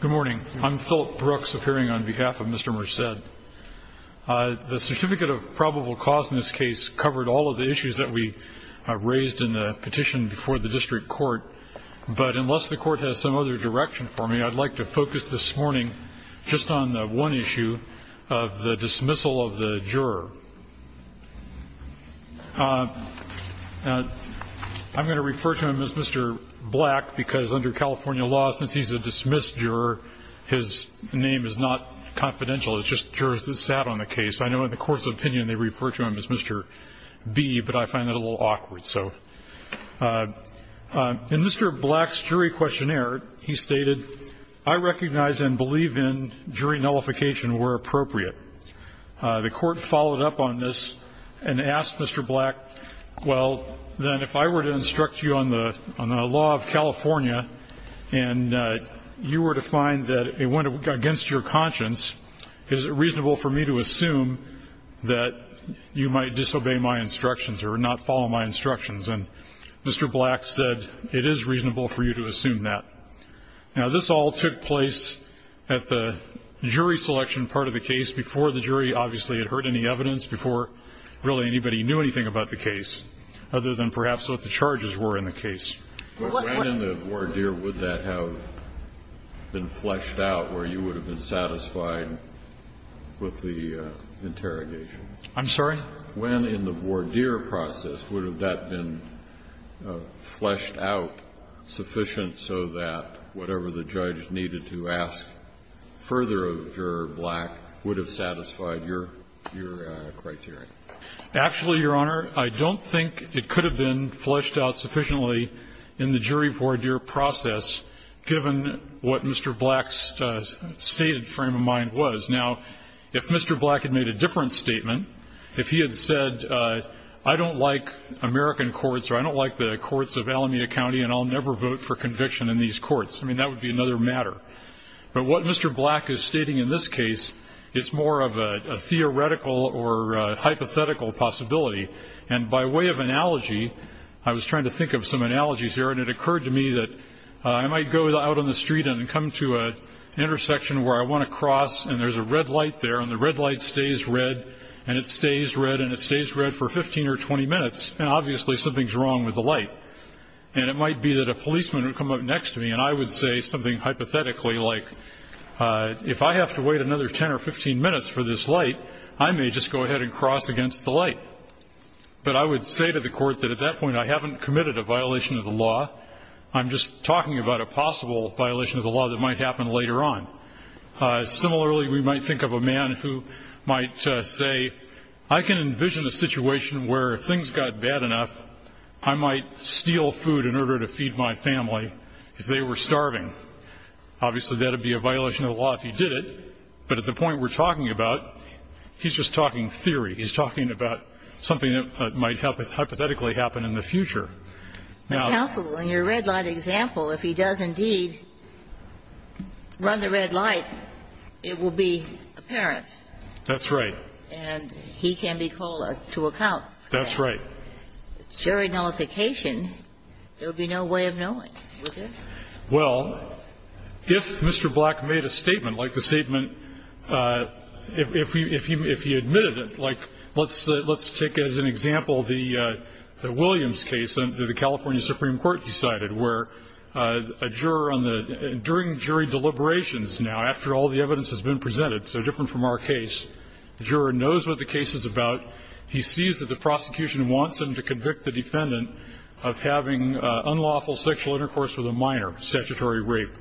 Good morning. I'm Philip Brooks, appearing on behalf of Mr. Merced. The certificate of probable cause in this case covered all of the issues that we raised in the petition before the district court, but unless the court has some other direction for me, I'd like to focus this morning just on one issue of the dismissal of the juror. I'm going to refer to him as Mr. Black because under California law, since he's a dismissed juror, his name is not confidential. It's just jurors that sat on the case. I know in the court's opinion they refer to him as Mr. B, but I find that a little awkward. In Mr. Black's jury questionnaire, he stated, I recognize and believe in jury nullification where appropriate. The court followed up on this and asked Mr. Black, well, then if I were to instruct you on the law of California and you were to find that it went against your conscience, is it reasonable for me to assume that you might disobey my instructions or not follow my instructions? And Mr. Black said, it is reasonable for you to assume that. Now, this all took place at the jury selection part of the case. Before the jury obviously had heard any evidence, before really anybody knew anything about the case, other than perhaps what the charges were in the case. But when in the voir dire would that have been fleshed out where you would have been satisfied with the interrogation? I'm sorry? When in the voir dire process would have that been fleshed out sufficient so that whatever the judge needed to ask further of Juror Black would have satisfied your criteria? Actually, Your Honor, I don't think it could have been fleshed out sufficiently in the jury voir dire process given what Mr. Black's stated frame of mind was. Now, if Mr. Black had made a different statement, if he had said I don't like American courts or I don't like the courts of Alameda County and I'll never vote for conviction in these courts, I mean, that would be another matter. But what Mr. Black is stating in this case is more of a theoretical or hypothetical possibility. And by way of analogy, I was trying to think of some analogies here, and it occurred to me that I might go out on the street and come to an intersection where I want to cross and there's a red light there, and the red light stays red and it stays red and it stays red for 15 or 20 minutes, and obviously something's wrong with the light. And it might be that a policeman would come up next to me and I would say something hypothetically like, if I have to wait another 10 or 15 minutes for this light, I may just go ahead and cross against the light. But I would say to the court that at that point I haven't committed a violation of the law, I'm just talking about a possible violation of the law that might happen later on. Similarly, we might think of a man who might say, I can envision a situation where if things got bad enough, I might steal food in order to feed my family if they were starving. Obviously, that would be a violation of the law if he did it, but at the point we're talking about, he's just talking theory. He's talking about something that might hypothetically happen in the future. Now. Ginsburg. In your red light example, if he does indeed run the red light, it will be apparent. That's right. And he can be called to account. That's right. If it's jury nullification, there would be no way of knowing, would there? Well, if Mr. Black made a statement, like the statement, if he admitted it, like Let's take as an example the Williams case that the California Supreme Court decided, where a juror on the, during jury deliberations now, after all the evidence has been presented, so different from our case, the juror knows what the case is about. He sees that the prosecution wants him to convict the defendant of having unlawful sexual intercourse with a minor, statutory rape.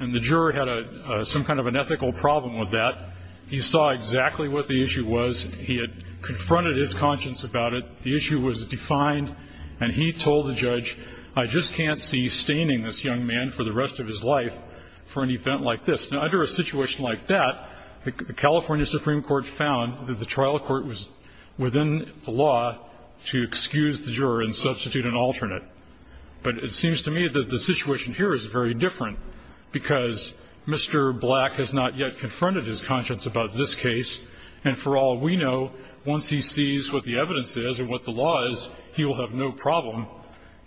And the juror had some kind of an ethical problem with that. He saw exactly what the issue was. He had confronted his conscience about it. The issue was defined. And he told the judge, I just can't see staining this young man for the rest of his life for an event like this. Now, under a situation like that, the California Supreme Court found that the trial court was within the law to excuse the juror and substitute an alternate. But it seems to me that the situation here is very different, because Mr. Black has not yet confronted his conscience about this case. And for all we know, once he sees what the evidence is and what the law is, he will have no problem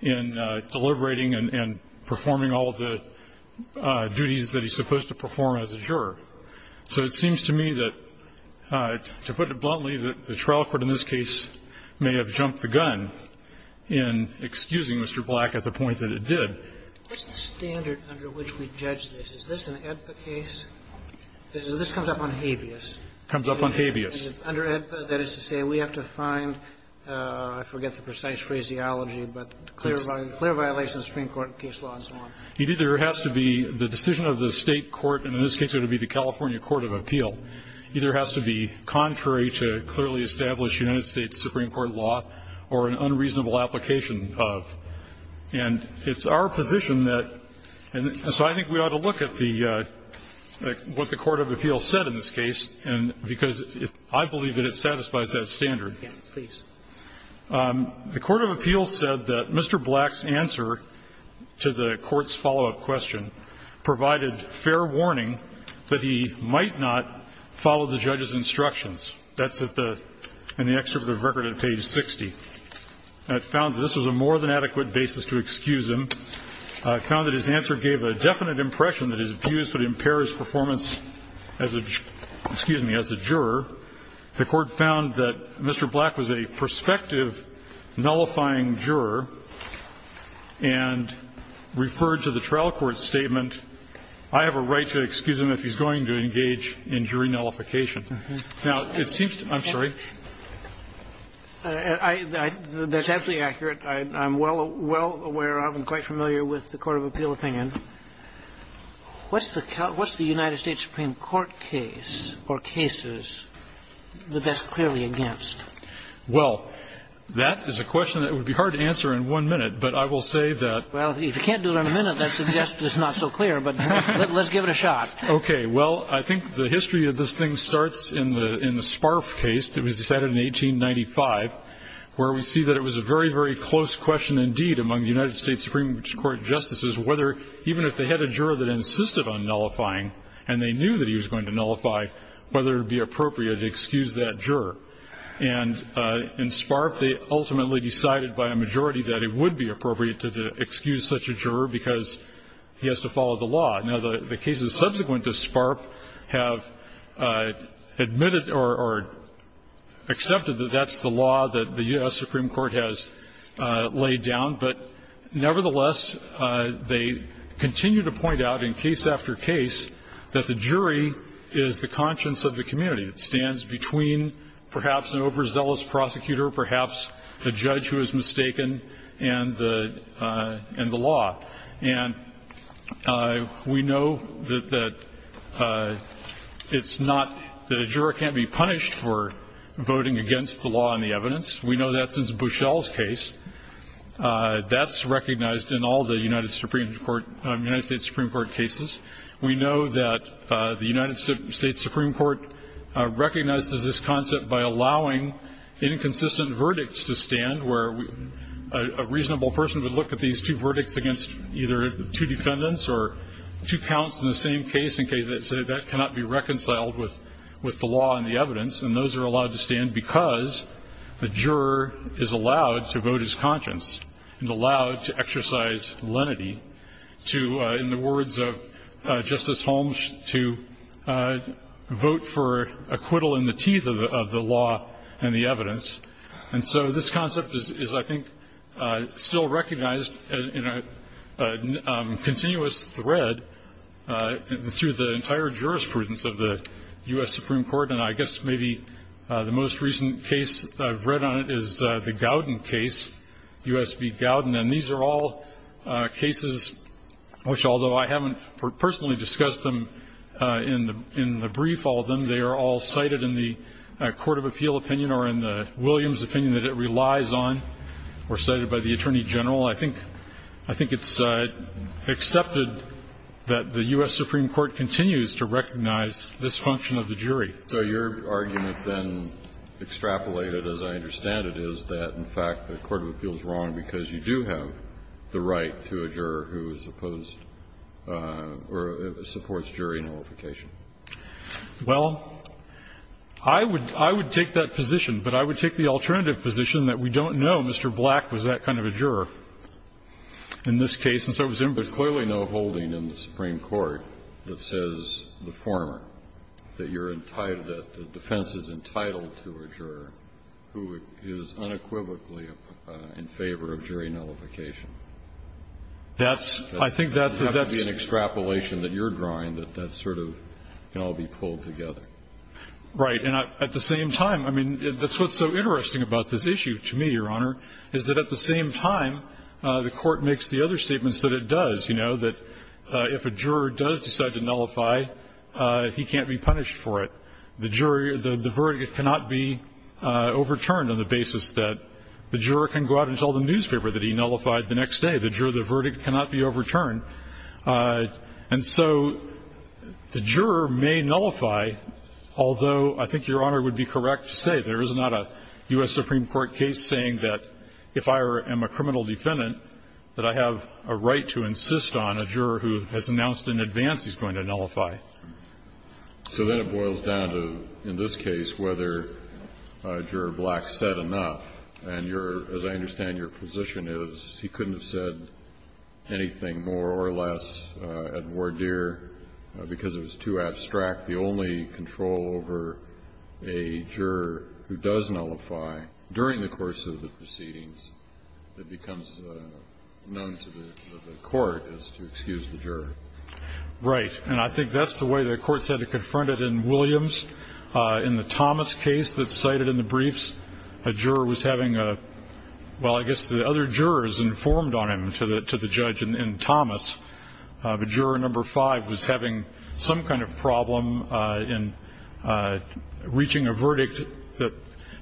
in deliberating and performing all of the duties that he's supposed to perform as a juror. So it seems to me that, to put it bluntly, that the trial court in this case may have jumped the gun in excusing Mr. Black at the point that it did. What's the standard under which we judge this? Is this an AEDPA case? This comes up on habeas. It comes up on habeas. Under AEDPA, that is to say, we have to find, I forget the precise phraseology, but clear violation of the Supreme Court case law and so on. It either has to be the decision of the State court, and in this case it would be the California Court of Appeal, either has to be contrary to clearly established United States Supreme Court law or an unreasonable application of. And it's our position that so I think we ought to look at the what the court of appeal said in this case, because I believe that it satisfies that standard. Robertson, please. The court of appeal said that Mr. Black's answer to the court's follow-up question in the excerpt of the record on page 60. It found that this was a more than adequate basis to excuse him. It found that his answer gave a definite impression that his views would impair his performance as a, excuse me, as a juror. The court found that Mr. Black was a prospective nullifying juror and referred to the trial court's statement, I have a right to excuse him if he's going to engage in jury nullification. Now, it seems to, I'm sorry. That's absolutely accurate. I'm well aware of and quite familiar with the court of appeal opinion. What's the United States Supreme Court case or cases that that's clearly against? Well, that is a question that would be hard to answer in one minute, but I will say that. Well, if you can't do it in a minute, that suggests it's not so clear, but let's give it a shot. Okay. Well, I think the history of this thing starts in the Sparf case. It was decided in 1895, where we see that it was a very, very close question indeed among the United States Supreme Court justices, whether even if they had a juror that insisted on nullifying and they knew that he was going to nullify, whether it would be appropriate to excuse that juror. And in Sparf, they ultimately decided by a majority that it would be appropriate to excuse such a juror because he has to follow the law. Now, the cases subsequent to Sparf have admitted or accepted that that's the law that the U.S. Supreme Court has laid down, but nevertheless, they continue to point out in case after case that the jury is the conscience of the community. It stands between perhaps an overzealous prosecutor, perhaps a judge who is mistaken and the law. And we know that it's not the juror can't be punished for voting against the law and the evidence. We know that since Bushell's case. That's recognized in all the United Supreme Court, United States Supreme Court cases. We know that the United States Supreme Court recognizes this concept by allowing inconsistent verdicts to stand where a reasonable person would look at these two defendants or two counts in the same case and say that cannot be reconciled with the law and the evidence. And those are allowed to stand because the juror is allowed to vote his conscience and allowed to exercise lenity to, in the words of Justice Holmes, to vote for acquittal in the teeth of the law and the evidence. And so this concept is, I think, still recognized in a continuous thread through the entire jurisprudence of the U.S. Supreme Court. And I guess maybe the most recent case I've read on it is the Gowden case, U.S. v. Gowden. And these are all cases which, although I haven't personally discussed them in the brief, all of them, they are all cited in the court of appeal opinion or in the Williams opinion that it relies on or cited by the Attorney General. I think it's accepted that the U.S. Supreme Court continues to recognize this function of the jury. So your argument, then, extrapolated, as I understand it, is that, in fact, the court of appeal is wrong because you do have the right to a juror who is opposed or supports jury nullification. Well, I would take that position, but I would take the alternative position that we don't know Mr. Black was that kind of a juror in this case, and so it was imbued. Kennedy. There's clearly no holding in the Supreme Court that says the former, that you're entitled, that the defense is entitled to a juror who is unequivocally in favor of jury nullification. That's, I think, that's a, that's a, that's a, that's a, that's a, that's a, that's a, that's a, that's a, that's a, that's a, that's a, that's a, that's a, that's a, that's jury nullification, which is a condition. The juror may nullify, although I think Your Honor would be correct to say there is not a U.S. Supreme Court case saying that if I am a criminal defendant, that I have a right to insist on a juror who has announced in advance he's going to nullify. So then it boils down to, in this case, whether Juror Black said enough. And your, as I understand your position is he couldn't have said anything more or less at voir dire because it was too abstract. The only control over a juror who does nullify during the course of the proceedings that becomes known to the court is to excuse the juror. Right. And I think that's the way the court said it confronted in Williams. In the Thomas case that's cited in the briefs, a juror was having a, well, I guess the other jurors informed on him to the judge in Thomas. The juror number five was having some kind of problem in reaching a verdict.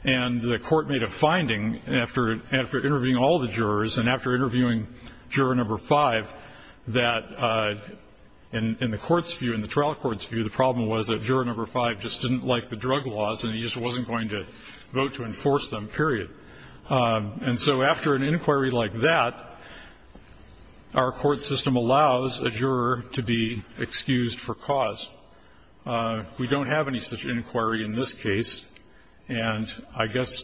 And the court made a finding after interviewing all the jurors and after interviewing juror number five that in the court's view, in the trial court's view, the problem was that juror number five just didn't like the drug laws and he just wasn't going to vote to enforce them, period. And so after an inquiry like that, our court system allows a juror to be excused for cause. We don't have any such inquiry in this case. And I guess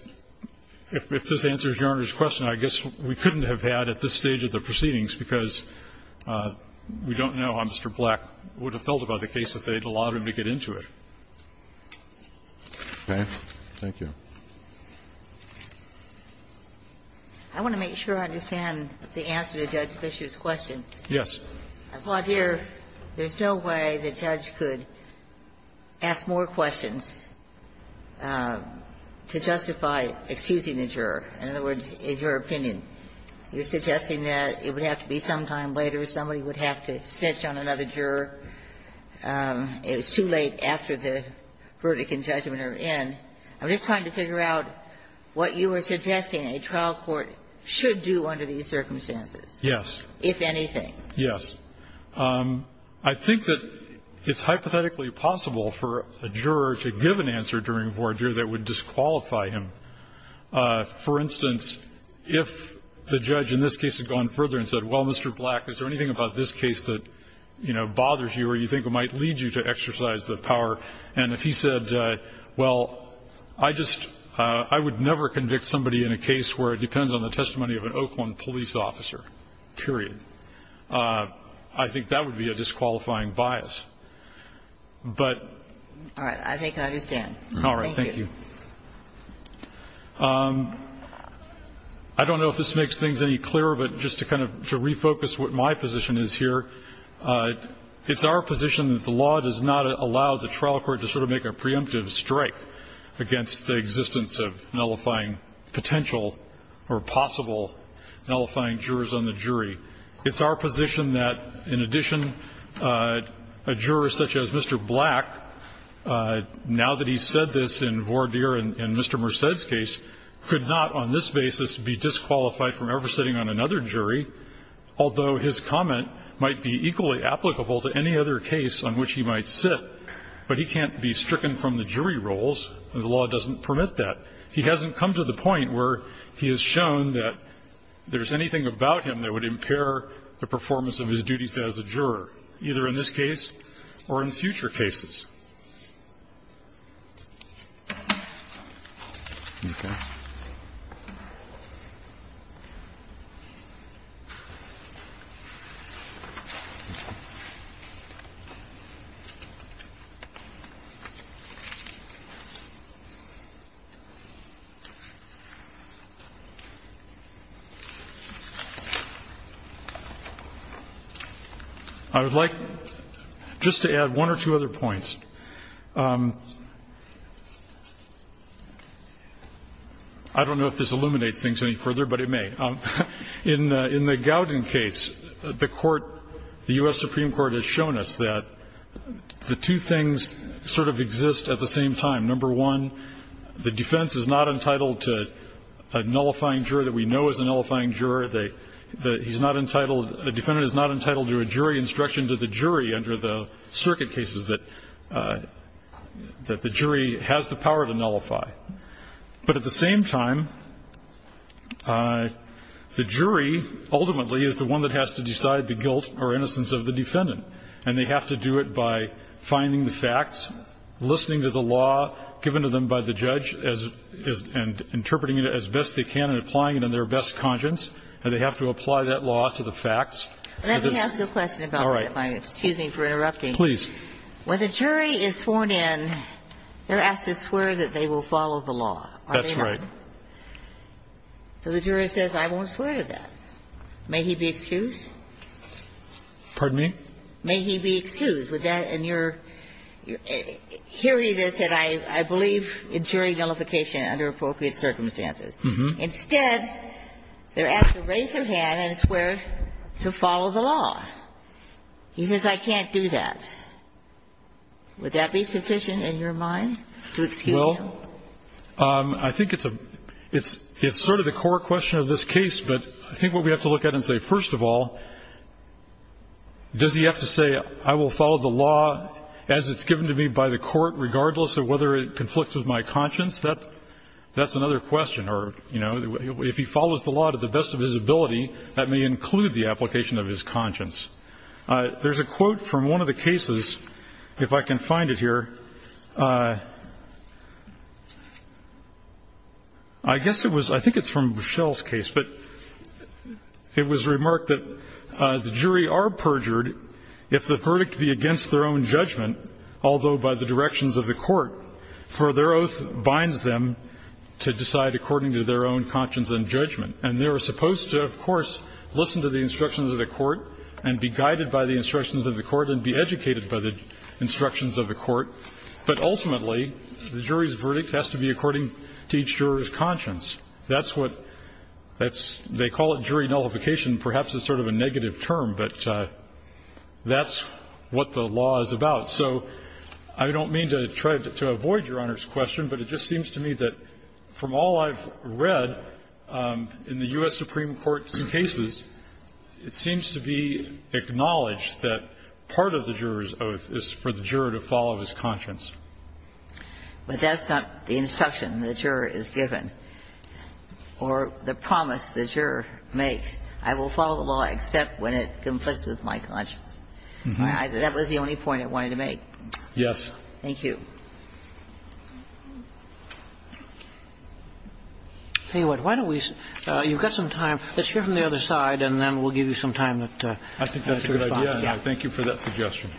if this answers Your Honor's question, I guess we couldn't have had at this stage of the proceedings because we don't know how Mr. Black would have felt about the case if they had allowed him to get into it. Okay. Thank you. Ginsburg. I want to make sure I understand the answer to Judge Fischer's question. Yes. I thought here, there's no way the judge could ask more questions to justify excusing the juror. In other words, in your opinion, you're suggesting that it would have to be sometime later, somebody would have to snitch on another juror. It was too late after the verdict and judgment are in. I'm just trying to figure out what you were suggesting a trial court should do under these circumstances. Yes. If anything. Yes. I think that it's hypothetically possible for a juror to give an answer during a voir dire that would disqualify him. For instance, if the judge in this case had gone further and said, well, Mr. Black, is there anything about this case that, you know, bothers you or you think might lead you to exercise the power, and if he said, well, I just, I would never convict somebody in a case where it depends on the testimony of an Oakland police officer, period, I think that would be a disqualifying bias. But. All right. I think I understand. All right. Thank you. I don't know if this makes things any clearer, but just to kind of refocus what my position is here, it's our position that the law does not allow the trial court to sort of make a preemptive strike against the existence of nullifying potential or possible nullifying jurors on the jury. It's our position that, in addition, a juror such as Mr. Black, now that he's said this in voir dire in Mr. Merced's case, could not on this basis be disqualified from ever sitting on another jury, although his comment might be equally applicable to any other case on which he might sit. But he can't be stricken from the jury roles, and the law doesn't permit that. He hasn't come to the point where he has shown that there's anything about him that would impair the performance of his duties as a juror, either in this case or in future cases. I would like just to add one or two other points. I don't know if this illuminates things any further, but it may. In the Gowden case, the Court, the U.S. Supreme Court has shown us that the two things sort of exist at the same time. Number one, the defendant is not entitled to a nullifying juror that we know is a nullifying juror. The defendant is not entitled to a jury instruction to the jury under the circuit cases that the jury has the power to nullify. But at the same time, the jury ultimately is the one that has to decide the guilt or innocence of the defendant, and they have to do it by finding the facts, listening to the law given to them by the judge, and interpreting it as best they can and applying it in their best conscience. And they have to apply that law to the facts. Let me ask a question about that, if I may. All right. Excuse me for interrupting. Please. When the jury is sworn in, they're asked to swear that they will follow the law. That's right. Are they not? So the jury says, I won't swear to that. May he be excused? Pardon me? May he be excused. And you're hearing this, and I believe in jury nullification under appropriate circumstances. Instead, they're asked to raise their hand and swear to follow the law. He says, I can't do that. Would that be sufficient in your mind to excuse him? Well, I think it's a – it's sort of the core question of this case, but I think what we have to look at and say, first of all, does he have to say, I will follow the law as it's given to me by the court, regardless of whether it conflicts with my conscience? That's another question. Or, you know, if he follows the law to the best of his ability, that may include the application of his conscience. There's a quote from one of the cases, if I can find it here. I guess it was – I think it's from Rochelle's case. But it was remarked that the jury are perjured if the verdict be against their own judgment, although by the directions of the court, for their oath binds them to decide according to their own conscience and judgment. And they are supposed to, of course, listen to the instructions of the court and be guided by the instructions of the court and be educated by the instructions of the court. But ultimately, the jury's verdict has to be according to each juror's conscience. That's what – that's – they call it jury nullification. Perhaps it's sort of a negative term, but that's what the law is about. So I don't mean to try to avoid Your Honor's question, but it just seems to me that from all I've read in the U.S. Supreme Court's cases, it seems to be acknowledged that part of the juror's oath is for the juror to follow his conscience. But that's not the instruction the juror is given. Or the promise the juror makes. I will follow the law except when it conflicts with my conscience. That was the only point I wanted to make. Yes. Thank you. Anyway, why don't we – you've got some time. Let's hear from the other side, and then we'll give you some time to respond. I think that's a good idea. Thank you for that suggestion.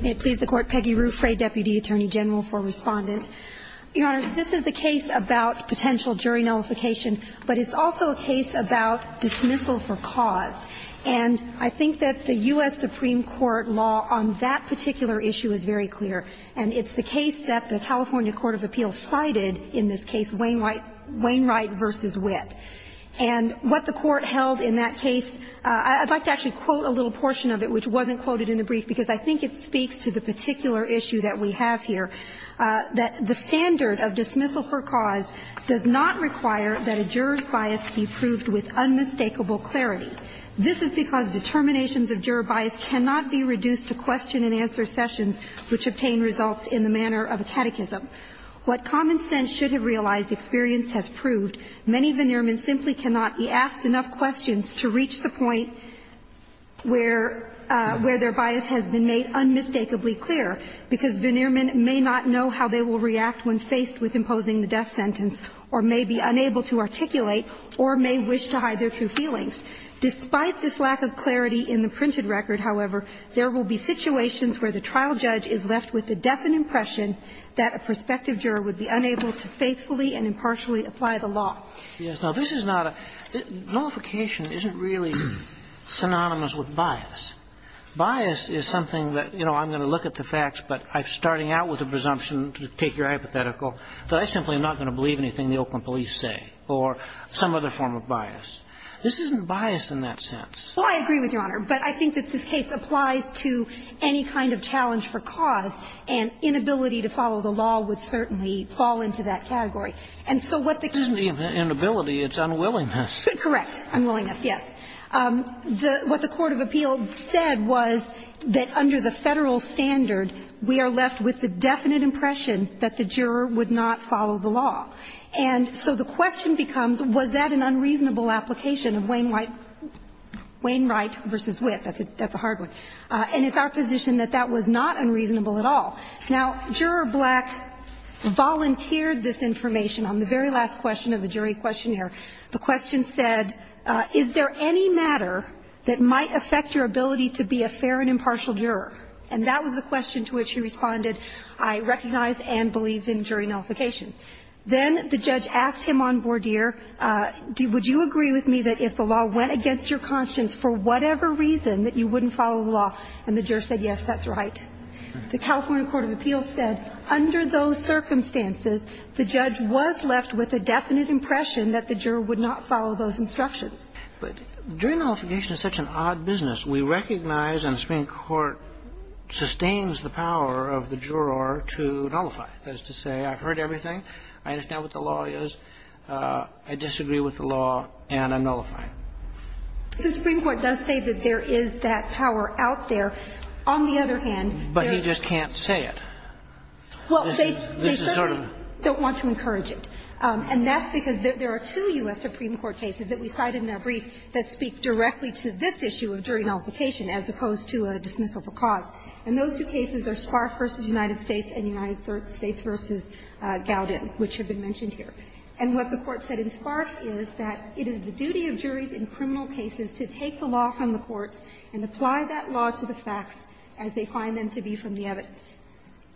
May it please the Court. Peggy Ruffray, Deputy Attorney General for Respondent. Your Honor, this is a case about potential jury nullification, but it's also a case about dismissal for cause. And I think that the U.S. Supreme Court law on that particular issue is very clear, and it's the case that the California court of appeals cited in this case, Wainwright v. Witt. And what the Court held in that case, I'd like to actually quote a little portion of it which wasn't quoted in the brief, because I think it speaks to the particular issue that we have here, that the standard of dismissal for cause does not require that a juror's bias be proved with unmistakable clarity. This is because determinations of juror bias cannot be reduced to question-and-answer sessions which obtain results in the manner of a catechism. What common sense should have realized experience has proved. Many veneermen simply cannot be asked enough questions to reach the point where their bias has been made unmistakably clear, because veneermen may not know how they will react when faced with imposing the death sentence or may be unable to articulate or may wish to hide their true feelings. Despite this lack of clarity in the printed record, however, there will be situations where the trial judge is left with the definite impression that a prospective juror would be unable to faithfully and impartially apply the law. Now, this is not a – nullification isn't really synonymous with bias. Bias is something that, you know, I'm going to look at the facts, but I'm starting out with a presumption, to take your hypothetical, that I simply am not going to believe anything the Oakland police say or some other form of bias. This isn't bias in that sense. Well, I agree with Your Honor. But I think that this case applies to any kind of challenge for cause. And inability to follow the law would certainly fall into that category. And so what the case – It isn't inability. It's unwillingness. Correct. Unwillingness, yes. What the court of appeals said was that under the Federal standard, we are left with the definite impression that the juror would not follow the law. And so the question becomes, was that an unreasonable application of Wayne White versus Witt? That's a hard one. And it's our position that that was not unreasonable at all. Now, Juror Black volunteered this information on the very last question of the jury questionnaire. The question said, is there any matter that might affect your ability to be a fair and impartial juror? And that was the question to which he responded, I recognize and believe in jury nullification. Then the judge asked him on Bourdier, would you agree with me that if the law went against your conscience, for whatever reason, that you wouldn't follow the law? And the juror said, yes, that's right. The California court of appeals said, under those circumstances, the judge was left with a definite impression that the juror would not follow those instructions. But jury nullification is such an odd business. We recognize and the Supreme Court sustains the power of the juror to nullify. That is to say, I've heard everything, I understand what the law is, I disagree with the law, and I nullify it. The Supreme Court does say that there is that power out there. On the other hand, there is not. But he just can't say it. Well, they certainly don't want to encourage it. And that's because there are two U.S. Supreme Court cases that we cited in our brief that speak directly to this issue of jury nullification as opposed to a dismissal for cause. And those two cases are Sparf v. United States and United States v. Gowden, which have been mentioned here. And what the Court said in Sparf is that it is the duty of juries in criminal cases to take the law from the courts and apply that law to the facts as they find them to be from the evidence.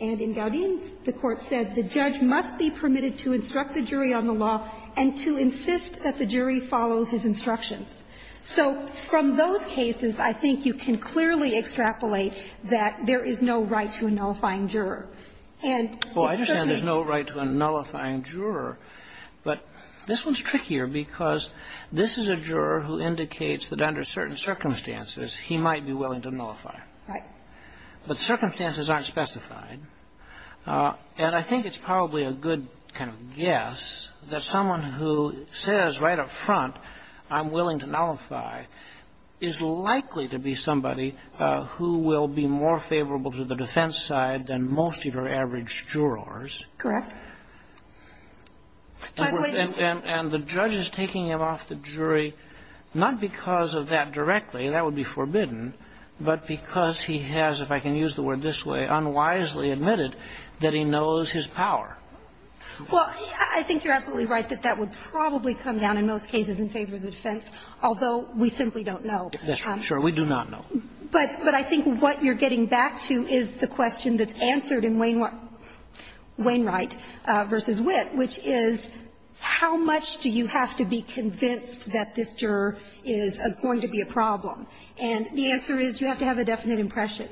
And in Gowden, the Court said the judge must be permitted to instruct the jury on the law and to insist that the jury follow his instructions. So from those cases, I think you can clearly extrapolate that there is no right to a nullifying juror. And it certainly is not. There is no right to a nullifying juror. But this one's trickier because this is a juror who indicates that under certain circumstances, he might be willing to nullify. Right. But circumstances aren't specified. And I think it's probably a good kind of guess that someone who says right up front I'm willing to nullify is likely to be somebody who will be more favorable to the defense side than most of your average jurors. Correct. And the judge is taking him off the jury not because of that directly. That would be forbidden. But because he has, if I can use the word this way, unwisely admitted that he knows his power. Well, I think you're absolutely right that that would probably come down in most cases in favor of the defense, although we simply don't know. Sure, we do not know. But I think what you're getting back to is the question that's answered in Wayne Wright v. Witt, which is how much do you have to be convinced that this juror is going to be a problem? And the answer is you have to have a definite impression.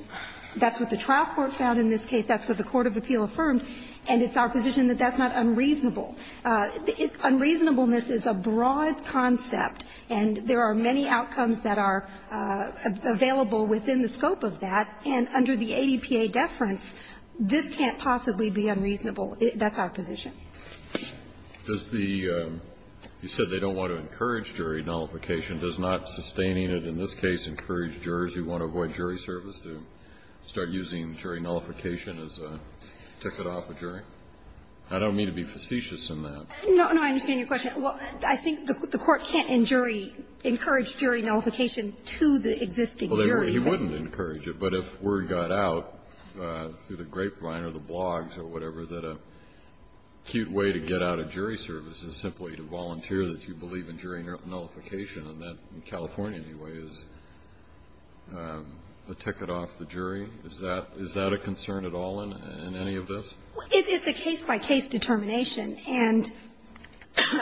That's what the trial court found in this case. That's what the court of appeal affirmed. And it's our position that that's not unreasonable. Unreasonableness is a broad concept, and there are many outcomes that are available within the scope of that. And under the ADPA deference, this can't possibly be unreasonable. That's our position. Does the you said they don't want to encourage jury nullification. Does not sustaining it in this case encourage jurors who want to avoid jury service to start using jury nullification as a ticket off a jury? I don't mean to be facetious in that. No, no, I understand your question. Well, I think the Court can't in jury encourage jury nullification to the existing jury. Well, he wouldn't encourage it, but if word got out through the grapevine or the blogs or whatever that a cute way to get out of jury service is simply to volunteer that you believe in jury nullification, and that in California anyway is a ticket off the jury, is that a concern at all in any of this? It's a case-by-case determination, and,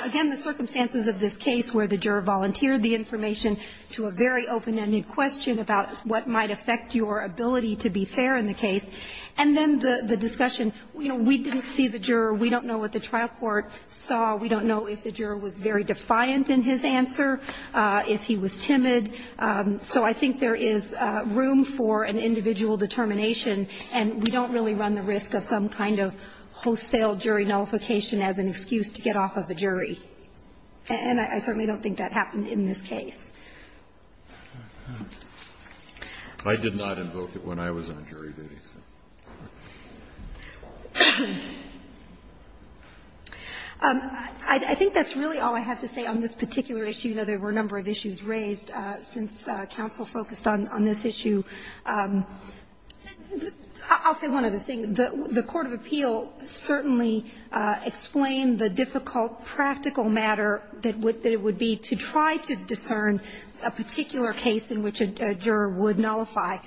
again, the circumstances of this case where the juror volunteered the information to a very open-ended question about what might affect your ability to be fair in the case, and then the discussion, you know, we didn't see the juror, we don't know what the trial court saw, we don't know if the juror was very defiant in his answer, if he was timid, so I think there is room for an individual determination, and we don't really run the risk of some kind of wholesale jury nullification as an excuse to get off of a jury, and I certainly don't think that happened in this case. I did not invoke it when I was on jury duty, so. I think that's really all I have to say on this particular issue. You know, there were a number of issues raised since counsel focused on this issue. I'll say one other thing. The court of appeal certainly explained the difficult practical matter that it would be to try to discern a particular case in which a juror would nullify.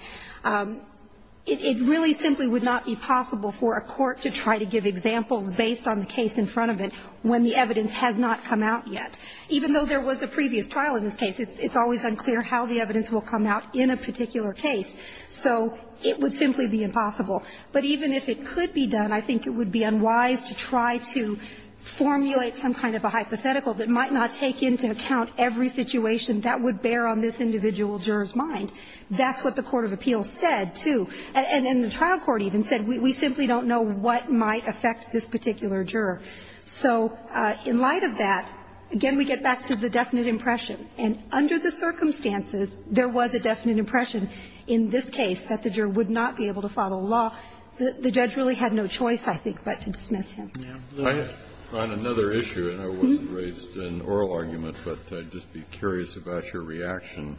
It really simply would not be possible for a court to try to give examples based on the case in front of it when the evidence has not come out yet. Even though there was a previous trial in this case, it's always unclear how the evidence will come out in a particular case. So it would simply be impossible. But even if it could be done, I think it would be unwise to try to formulate some kind of a hypothetical that might not take into account every situation that would bear on this individual juror's mind. That's what the court of appeal said, too. And the trial court even said, we simply don't know what might affect this particular juror. So in light of that, again, we get back to the definite impression. And under the circumstances, there was a definite impression in this case that the juror would not be able to follow the law. The judge really had no choice, I think, but to dismiss him. Kennedy, on another issue, and I wasn't raised in oral argument, but I'd just be curious about your reaction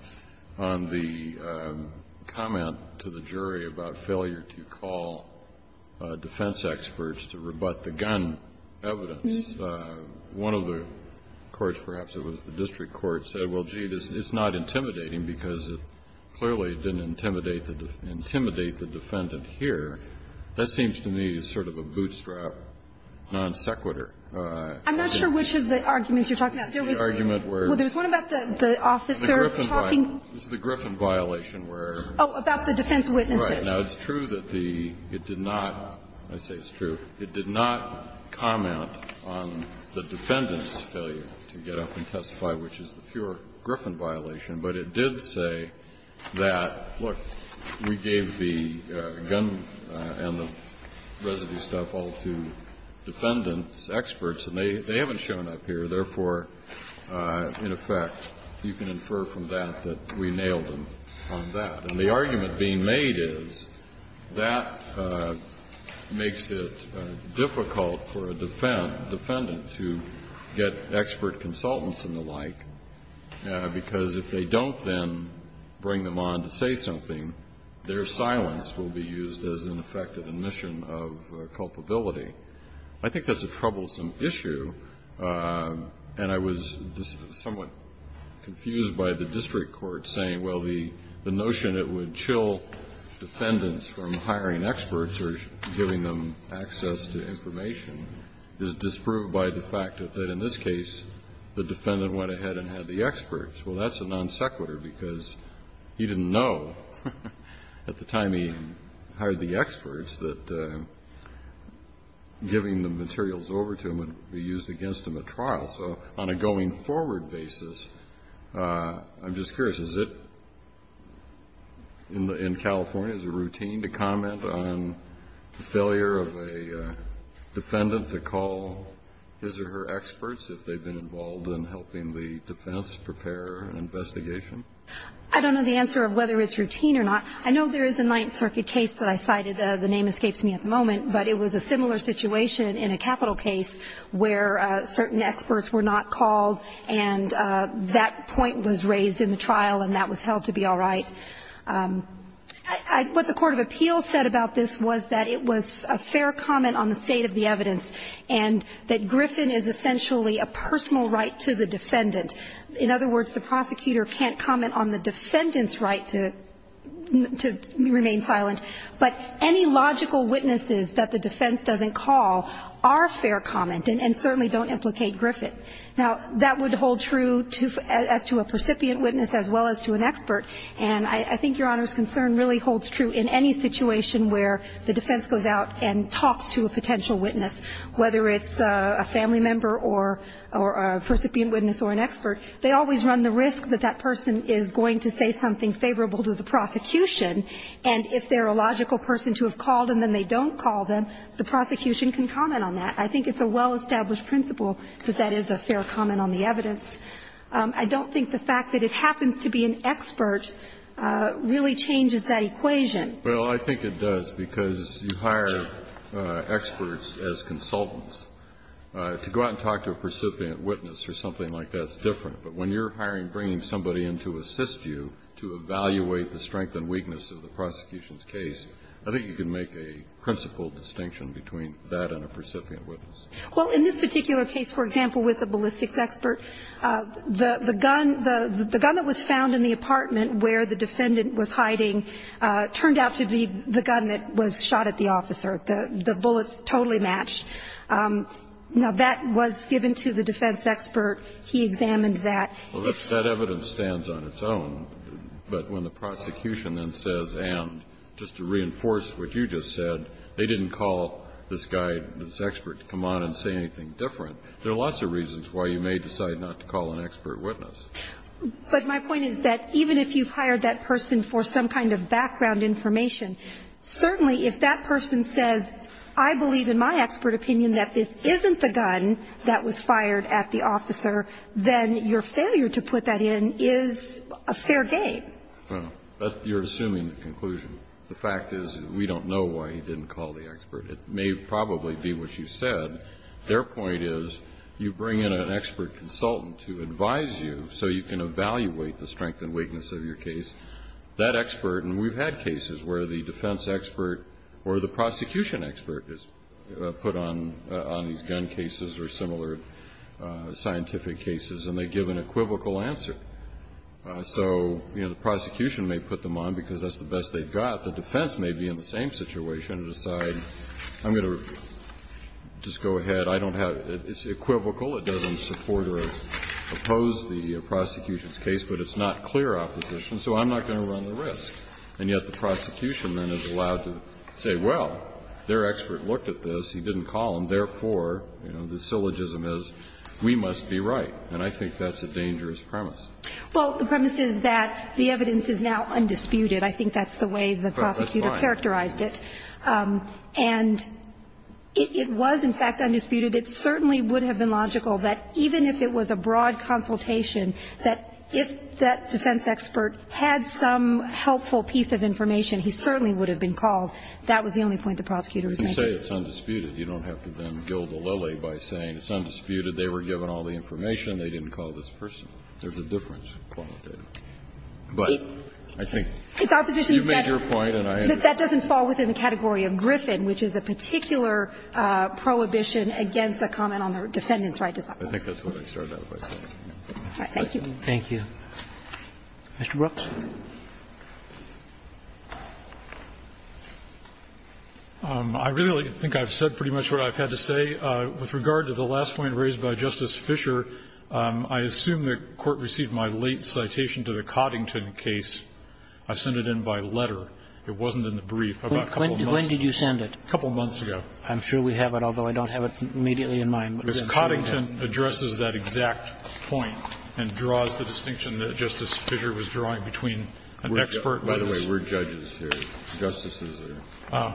on the comment to the jury about failure to call defense experts to rebut the gun evidence. One of the courts, perhaps it was the district court, said, well, gee, it's not intimidating because it clearly didn't intimidate the defendant here. That seems to me sort of a bootstrap, non sequitur. I'm not sure which of the arguments you're talking about. There was one about the officer talking. This is the Griffin violation where the defense witnesses. Now, it's true that the – it did not – I say it's true. It did not comment on the defendant's failure to get up and testify, which is the pure Griffin violation. But it did say that, look, we gave the gun and the residue stuff all to defendants, experts, and they haven't shown up here, therefore, in effect, you can infer from that that we nailed them on that. And the argument being made is that makes it difficult for a defendant to get expert consultants and the like, because if they don't then bring them on to say something, their silence will be used as an effective admission of culpability. I think that's a troublesome issue, and I was somewhat confused by the district court saying, well, the notion it would chill defendants from hiring experts or giving them access to information is disproved by the fact that in this case, the defendant went ahead and had the experts. Well, that's a non sequitur because he didn't know at the time he hired the experts that giving the materials over to him would be used against him at trial. So on a going forward basis, I'm just curious, is it, in California, is it routine to comment on the failure of a defendant to call his or her experts if they've been involved in helping the defense prepare an investigation? I don't know the answer of whether it's routine or not. I know there is a Ninth Circuit case that I cited. The name escapes me at the moment, but it was a similar situation in a capital case where certain experts were not called, and that point was raised in the trial, and that was held to be all right. What the court of appeals said about this was that it was a fair comment on the state of the evidence, and that Griffin is essentially a personal right to the defendant. In other words, the prosecutor can't comment on the defendant's right to remain silent, but any logical witnesses that the defense doesn't call are fair comment and certainly don't implicate Griffin. Now, that would hold true as to a precipient witness as well as to an expert, and I think Your Honor's concern really holds true in any situation where the defense goes out and talks to a potential witness, whether it's a family member or a precipitant witness or an expert, they always run the risk that that person is going to say something unfavorable to the prosecution. And if they're a logical person to have called and then they don't call them, the prosecution can comment on that. I think it's a well-established principle that that is a fair comment on the evidence. I don't think the fact that it happens to be an expert really changes that equation. Well, I think it does, because you hire experts as consultants. To go out and talk to a precipitant witness or something like that is different. But when you're hiring, bringing somebody in to assist you to evaluate the strength and weakness of the prosecution's case, I think you can make a principle distinction between that and a precipitant witness. Well, in this particular case, for example, with the ballistics expert, the gun that was found in the apartment where the defendant was hiding turned out to be the gun that was shot at the officer. The bullets totally matched. Now, that was given to the defense expert. He examined that. That evidence stands on its own. But when the prosecution then says, and, just to reinforce what you just said, they didn't call this guy, this expert, to come on and say anything different, there are lots of reasons why you may decide not to call an expert witness. But my point is that even if you've hired that person for some kind of background information, certainly if that person says, I believe in my expert opinion that this isn't the gun that was fired at the officer, then your failure to put that in is a fair game. Well, you're assuming the conclusion. The fact is we don't know why he didn't call the expert. It may probably be what you said. Their point is you bring in an expert consultant to advise you so you can evaluate the strength and weakness of your case. The prosecution expert is put on these gun cases or similar scientific cases, and they give an equivocal answer. So, you know, the prosecution may put them on because that's the best they've got. The defense may be in the same situation and decide, I'm going to just go ahead. I don't have to do it. It's equivocal. It doesn't support or oppose the prosecution's case, but it's not clear opposition, so I'm not going to run the risk. And yet the prosecution then is allowed to say, well, their expert looked at this. He didn't call him. Therefore, you know, the syllogism is we must be right. And I think that's a dangerous premise. Well, the premise is that the evidence is now undisputed. I think that's the way the prosecutor characterized it. And it was, in fact, undisputed. It certainly would have been logical that even if it was a broad consultation, that if that defense expert had some helpful piece of information, he certainly would have been called. That was the only point the prosecutor was making. Kennedy. You say it's undisputed. You don't have to then gild the lily by saying it's undisputed. They were given all the information. They didn't call this person. There's a difference. But I think you've made your point, and I understand. That doesn't fall within the category of Griffin, which is a particular prohibition against a comment on the defendant's right to self-claim. I think that's what I started out with myself. Thank you. Thank you. Mr. Brooks. I really think I've said pretty much what I've had to say. With regard to the last point raised by Justice Fischer, I assume the Court received my late citation to the Coddington case. I sent it in by letter. It wasn't in the brief. When did you send it? A couple of months ago. I'm sure we have it, although I don't have it immediately in mind. Because Coddington addresses that exact point and draws the distinction that Justice Fischer was drawing between an expert and a judge. By the way, we're judges here. Justices are here.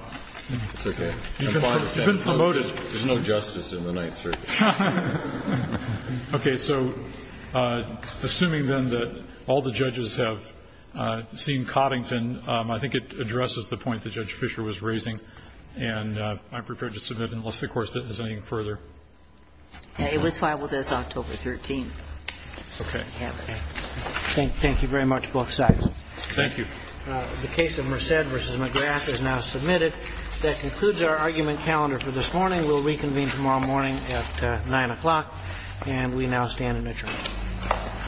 It's okay. It's been promoted. There's no justice in the Ninth Circuit. Okay. So assuming, then, that all the judges have seen Coddington, I think it addresses the point that Judge Fischer was raising, and I'm prepared to submit it unless the Court is looking further. It was filed with us October 13th. Okay. Thank you very much, both sides. Thank you. The case of Merced v. McGrath is now submitted. That concludes our argument calendar for this morning. We'll reconvene tomorrow morning at 9 o'clock, and we now stand in adjournment.